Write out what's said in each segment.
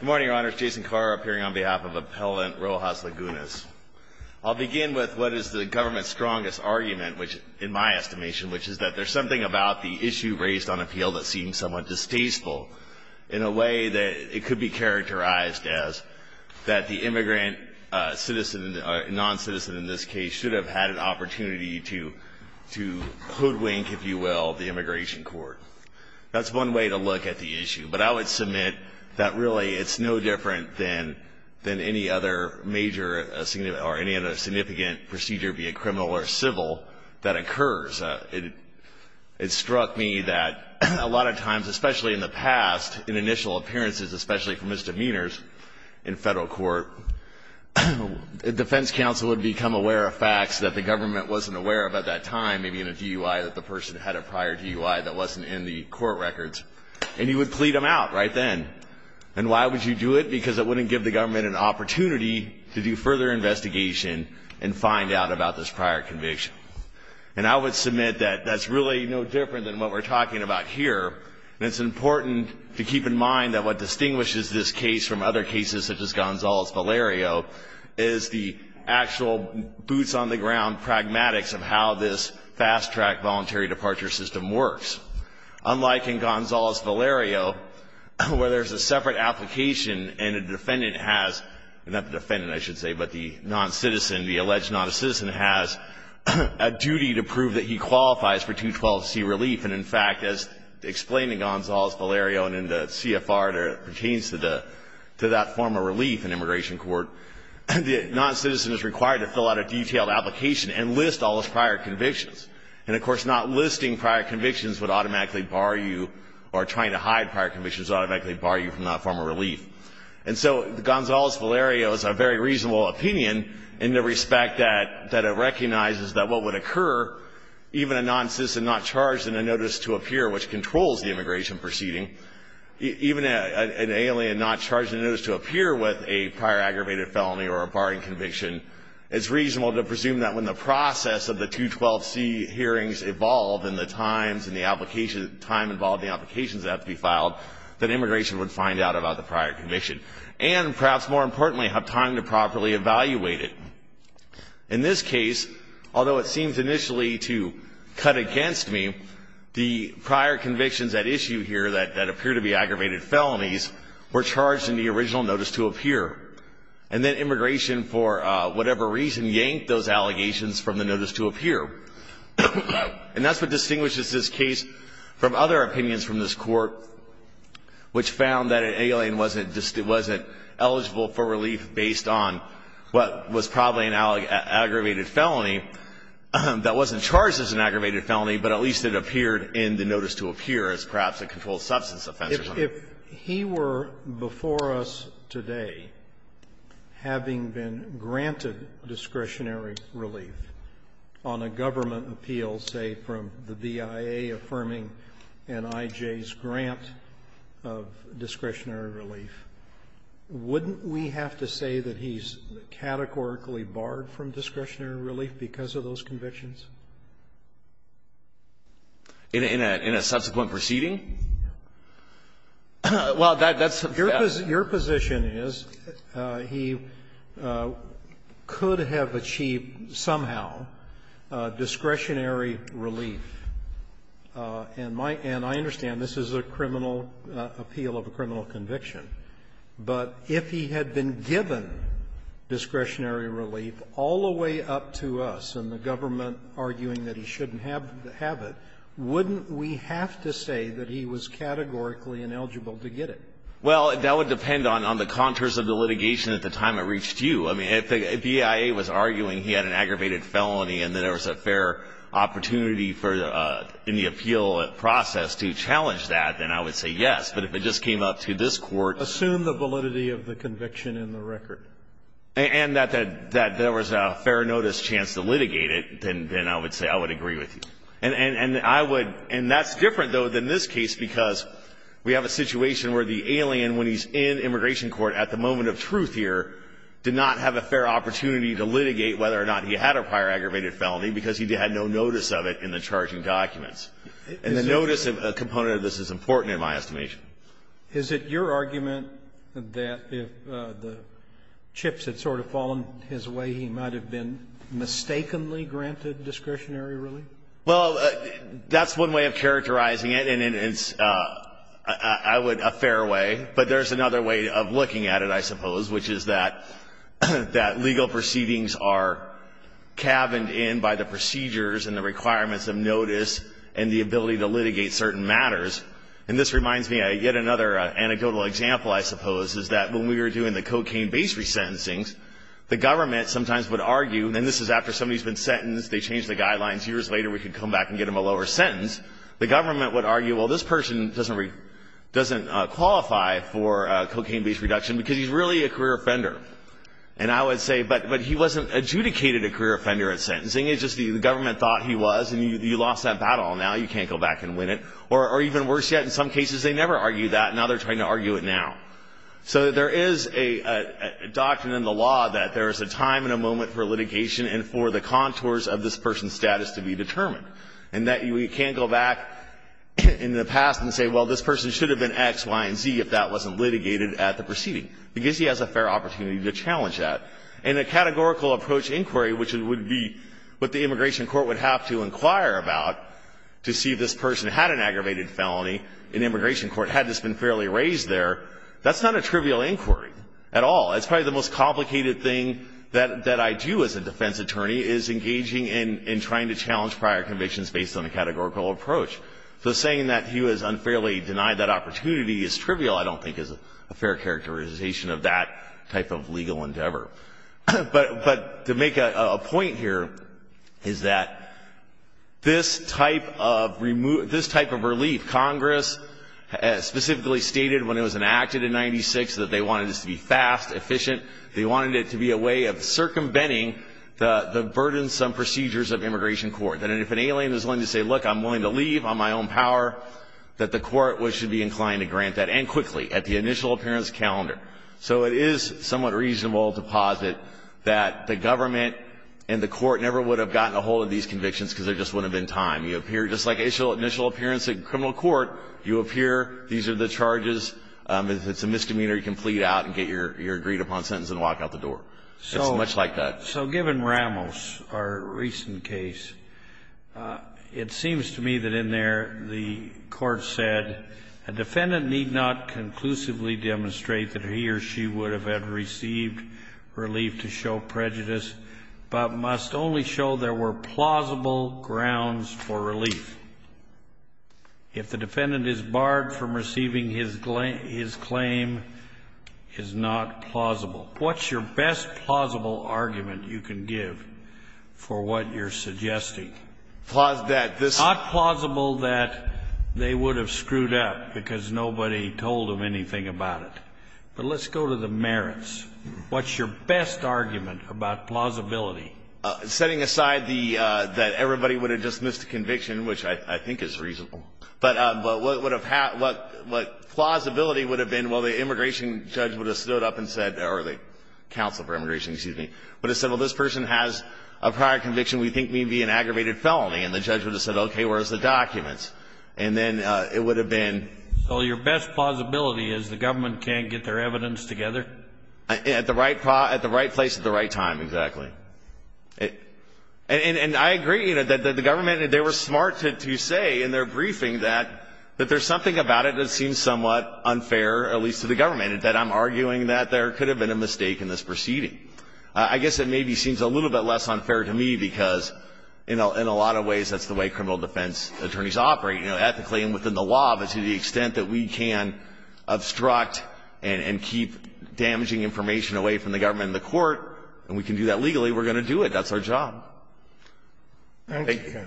Good morning, Your Honors. Jason Carr, appearing on behalf of Appellant Rojas-Lagunez. I'll begin with what is the government's strongest argument, in my estimation, which is that there's something about the issue raised on appeal that seems somewhat distasteful in a way that it could be characterized as that the immigrant non-citizen in this case should have had an opportunity to hoodwink, if you will, the immigration court. That's one way to look at the issue, but I would submit that really it's no different than any other major or any other significant procedure, be it criminal or civil, that occurs. It struck me that a lot of times, especially in the past, in initial appearances, especially from misdemeanors in federal court, the defense counsel would become aware of facts that the government wasn't aware of at that time, maybe in a DUI that the person had a prior DUI that wasn't in the court records, and he would plead them out right then. And why would you do it? Because it wouldn't give the government an opportunity to do further investigation and find out about this prior conviction. And I would submit that that's really no different than what we're talking about here, and it's important to keep in mind that what distinguishes this case from other cases, such as Gonzalez-Valerio, is the actual boots-on-the-ground pragmatics of how this fast-track voluntary departure system works. Unlike in Gonzalez-Valerio, where there's a separate application and a defendant has, not the defendant, I should say, but the non-citizen, the alleged non-citizen, has a duty to prove that he qualifies for 212C relief. And, in fact, as explained in Gonzalez-Valerio and in the CFR that pertains to that form of relief in immigration court, the non-citizen is required to fill out a detailed application and list all his prior convictions. And, of course, not listing prior convictions would automatically bar you or trying to hide prior convictions would automatically bar you from that form of relief. And so Gonzalez-Valerio is a very reasonable opinion in the respect that it recognizes that what would occur, even a non-citizen not charged in a notice to appear, which controls the immigration proceeding, even an alien not charged in a notice to appear with a prior aggravated felony or a barring conviction, it's reasonable to presume that when the process of the 212C hearings evolve and the time involved in the applications that have to be filed, that immigration would find out about the prior conviction and, perhaps more importantly, have time to properly evaluate it. In this case, although it seems initially to cut against me, the prior convictions at issue here that appear to be aggravated felonies were charged in the original notice to appear. And then immigration, for whatever reason, yanked those allegations from the notice to appear. And that's what distinguishes this case from other opinions from this court, which found that an alien wasn't eligible for relief based on what was probably an aggravated felony that wasn't charged as an aggravated felony, but at least it appeared in the notice to appear as perhaps a controlled substance offense. If he were before us today having been granted discretionary relief on a government appeal, say, from the BIA affirming NIJ's grant of discretionary relief, wouldn't we have to say that he's categorically barred from discretionary relief because of those convictions? In a subsequent proceeding? Well, that's the question. Your position is he could have achieved somehow discretionary relief. And I understand this is a criminal appeal of a criminal conviction. But if he had been given discretionary relief all the way up to us and the government arguing that he shouldn't have it, wouldn't we have to say that he was categorically ineligible to get it? Well, that would depend on the contours of the litigation at the time it reached you. I mean, if the BIA was arguing he had an aggravated felony and that there was a fair opportunity in the appeal process to challenge that, then I would say yes. But if it just came up to this Court's ---- Assume the validity of the conviction in the record. And that there was a fair notice chance to litigate it, then I would say I would agree with you. And I would ---- and that's different, though, than this case, because we have a situation where the alien, when he's in immigration court at the moment of truth here, did not have a fair opportunity to litigate whether or not he had a prior aggravated felony because he had no notice of it in the charging documents. And the notice component of this is important in my estimation. Is it your argument that if the chips had sort of fallen his way, he might have been mistakenly granted discretionary relief? Well, that's one way of characterizing it, and it's, I would ---- a fair way. But there's another way of looking at it, I suppose, which is that legal proceedings are caverned in by the procedures and the requirements of notice and the ability to litigate certain matters. And this reminds me of yet another anecdotal example, I suppose, is that when we were doing the cocaine-based resentencings, the government sometimes would argue, and this is after somebody's been sentenced, they changed the guidelines, years later we could come back and get them a lower sentence. The government would argue, well, this person doesn't qualify for cocaine-based reduction because he's really a career offender. And I would say, but he wasn't adjudicated a career offender at sentencing. It's just the government thought he was, and you lost that battle. Now you can't go back and win it. Or even worse yet, in some cases they never argued that, and now they're trying to argue it now. So there is a doctrine in the law that there is a time and a moment for litigation and for the contours of this person's status to be determined, and that you can't go back in the past and say, well, this person should have been X, Y, and Z if that wasn't litigated at the proceeding, because he has a fair opportunity to challenge that. In a categorical approach inquiry, which would be what the immigration court would have to inquire about to see if this person had an aggravated felony in immigration court, had this been fairly raised there, that's not a trivial inquiry at all. It's probably the most complicated thing that I do as a defense attorney is engaging in trying to challenge prior convictions based on a categorical approach. So saying that he was unfairly denied that opportunity is trivial I don't think is a fair characterization of that type of legal endeavor. But to make a point here is that this type of relief Congress specifically stated when it was enacted in 96 that they wanted this to be fast, efficient. They wanted it to be a way of circumventing the burdensome procedures of immigration court, that if an alien is willing to say, look, I'm willing to leave on my own power, that the court should be inclined to grant that, and quickly, at the initial appearance calendar. So it is somewhat reasonable to posit that the government and the court never would have gotten a hold of these convictions because there just wouldn't have been time. You appear just like initial appearance in criminal court. You appear. These are the charges. If it's a misdemeanor, you can flee out and get your agreed upon sentence and walk out the door. It's much like that. So given Ramos, our recent case, it seems to me that in there the court said, a defendant need not conclusively demonstrate that he or she would have had received relief to show prejudice, but must only show there were plausible grounds for relief. If the defendant is barred from receiving his claim, is not plausible. What's your best plausible argument you can give for what you're suggesting? Not plausible that they would have screwed up because nobody told them anything about it. But let's go to the merits. What's your best argument about plausibility? Setting aside that everybody would have dismissed the conviction, which I think is reasonable. But what plausibility would have been, well, the immigration judge would have stood up and said, or the counsel for immigration, excuse me, would have said, well, this person has a prior conviction we think may be an aggravated felony. And the judge would have said, okay, where's the documents? And then it would have been. So your best plausibility is the government can't get their evidence together? At the right place at the right time, exactly. And I agree that the government, they were smart to say in their briefing that there's something about it that seems somewhat unfair, at least to the government, and that I'm arguing that there could have been a mistake in this proceeding. I guess it maybe seems a little bit less unfair to me because in a lot of ways that's the way criminal defense attorneys operate, you know, ethically and within the law. But to the extent that we can obstruct and keep damaging information away from the court and we can do that legally, we're going to do it. That's our job. Thank you.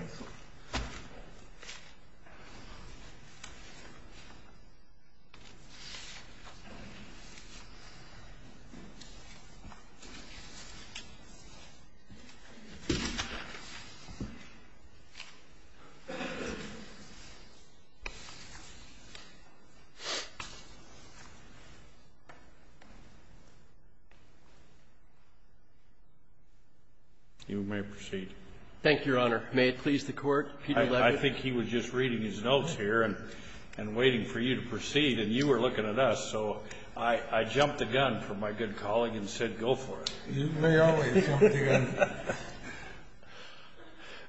You may proceed. Thank you, Your Honor. May it please the Court. Peter Levitt. I think he was just reading his notes here and waiting for you to proceed, and you were looking at us. So I jumped the gun for my good colleague and said go for it. You may always jump the gun.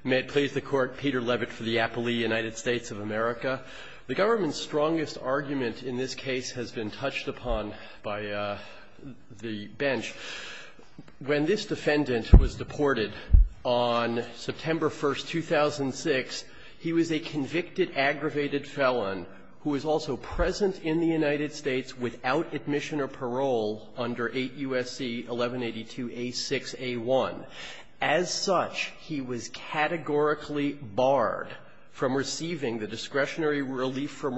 May it please the Court. Peter Levitt for the Appley United States of America. The government's strongest argument in this case has been touched upon by the bench. When this defendant was deported on September 1st, 2006, he was a convicted, aggravated felon who was also present in the United States without admission or parole under 8 U.S.C. 1182a6a1. As such, he was categorically barred from receiving the discretionary relief from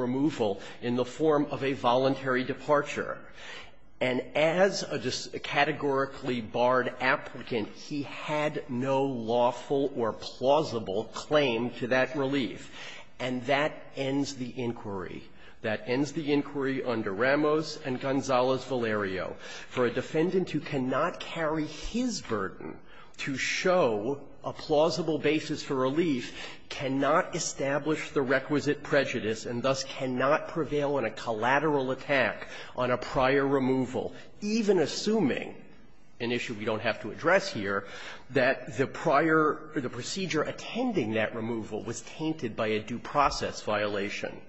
applicant. He had no lawful or plausible claim to that relief. And that ends the inquiry. That ends the inquiry under Ramos and Gonzales-Valerio. For a defendant who cannot carry his burden to show a plausible basis for relief cannot establish the requisite prejudice and thus cannot prevail in a collateral attack on a prior removal, even assuming, an issue we don't have to address here, that the prior or the procedure attending that removal was tainted by a due process violation.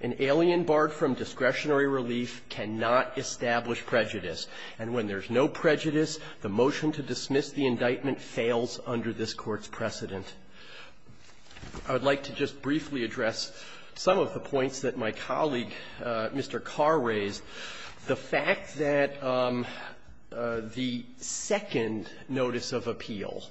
An alien barred from discretionary relief cannot establish prejudice. And when there's no prejudice, the motion to dismiss the indictment The fact that the second notice of appeal,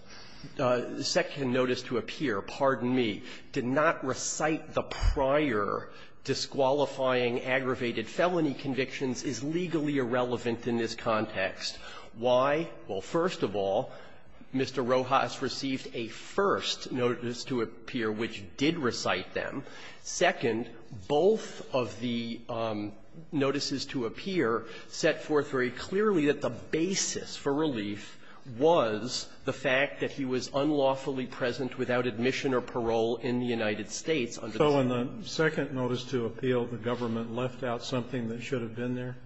the second notice to appear, pardon me, did not recite the prior disqualifying aggravated felony convictions is legally irrelevant in this context. Why? Well, first of all, Mr. Rojas received a first notice to appear which did recite them. Second, both of the notices to appear set forth very clearly that the basis for relief was the fact that he was unlawfully present without admission or parole in the United States. So in the second notice to appeal, the government left out something that should have been there?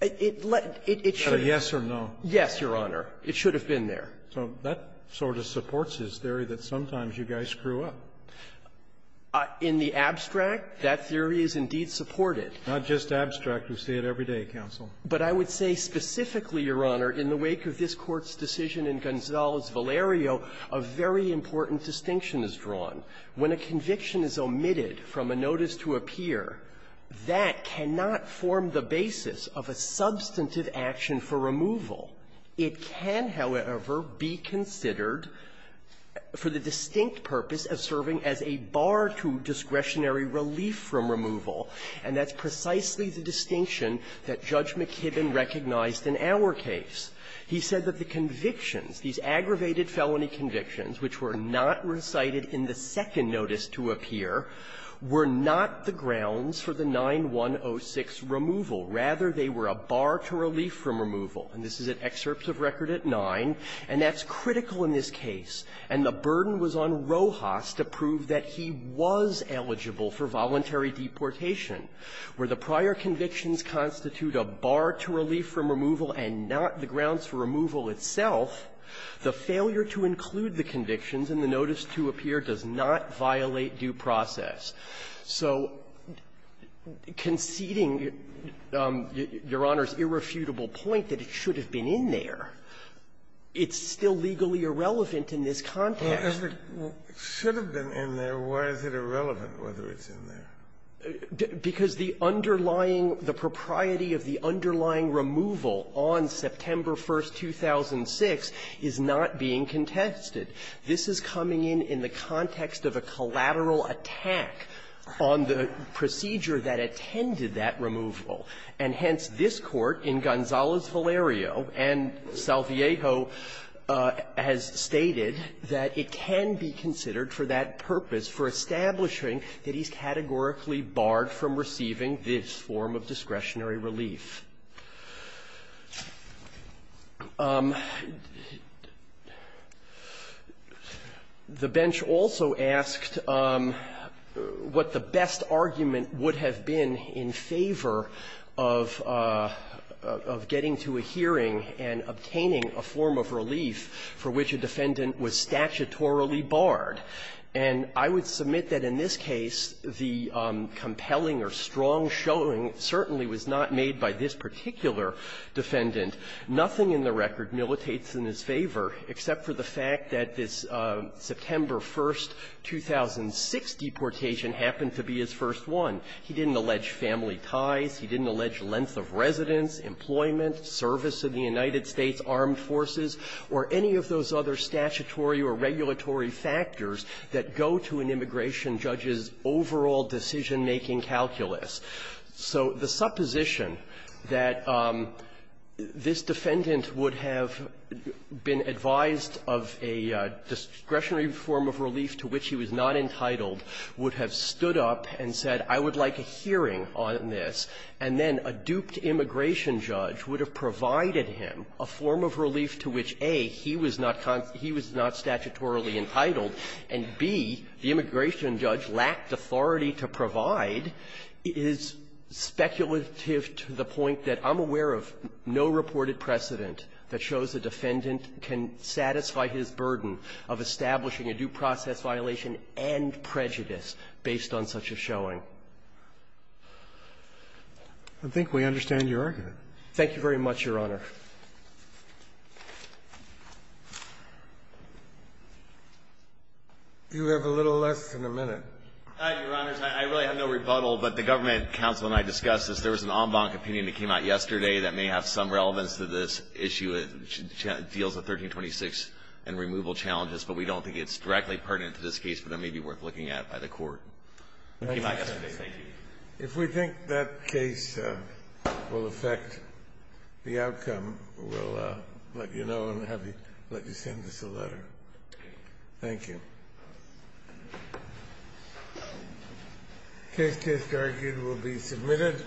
It should have. A yes or no? Yes, Your Honor. It should have been there. So that sort of supports his theory that sometimes you guys screw up. In the abstract, that theory is indeed supported. Not just abstract. We see it every day, counsel. But I would say specifically, Your Honor, in the wake of this Court's decision in Gonzales-Valerio, a very important distinction is drawn. When a conviction is omitted from a notice to appear, that cannot form the basis of a substantive action for removal. It can, however, be considered for the distinct purpose of serving as a bar to discretionary relief from removal, and that's precisely the distinction that Judge McKibben recognized in our case. He said that the convictions, these aggravated felony convictions which were not recited in the second notice to appear, were not the grounds for the 9106 removal. Rather, they were a bar to relief from removal. And this is at excerpts of record at 9, and that's critical in this case. And the burden was on Rojas to prove that he was eligible for voluntary deportation. Where the prior convictions constitute a bar to relief from removal and not the grounds for removal itself, the failure to include the convictions in the notice to appear does not violate due process. So conceding Your Honor's irrefutable point that it should have been in there, it's still legally irrelevant in this context. Kennedy. It should have been in there. Why is it irrelevant whether it's in there? Because the underlying the propriety of the underlying removal on September 1, 2006 is not being contested. This is coming in in the context of a collateral attack on the procedure that attended that removal. And hence, this Court in Gonzales-Valerio and Salviejo has stated that it can be considered for that purpose, for establishing that he's categorically barred from receiving this form of discretionary relief. The bench also asked what the best argument would have been in favor of getting to a hearing and obtaining a form of relief for which a defendant was statutorily barred. And I would submit that in this case, the compelling or strong showing certainly was not made by this particular defendant. Nothing in the record militates in his favor except for the fact that this September 1, 2006 deportation happened to be his first one. He didn't allege family ties. He didn't allege length of residence, employment, service in the United States armed forces, or any of those other statutory or regulatory factors that go to an immigration judge's overall decision-making calculus. So the supposition that this defendant would have been advised of a discretionary form of relief to which he was not entitled would have stood up and said, I would like a hearing on this. And then a duped immigration judge would have provided him a form of relief to which, A, he was not statutorily entitled, and, B, the immigration judge lacked authority to provide, is speculative to the point that I'm aware of no reported precedent that shows a defendant can satisfy his burden of establishing a due process violation and prejudice based on such a showing. I think we understand your argument. Thank you very much, Your Honor. You have a little less than a minute. Your Honor, I really have no rebuttal, but the government counsel and I discussed this. There was an en banc opinion that came out yesterday that may have some relevance to this issue. It deals with 1326 and removal challenges, but we don't think it's directly pertinent to this case, but it may be worth looking at by the Court. It came out yesterday. Thank you. If we think that case will affect the outcome, we'll let you know and have you send us a letter. Thank you. The case is argued and will be submitted.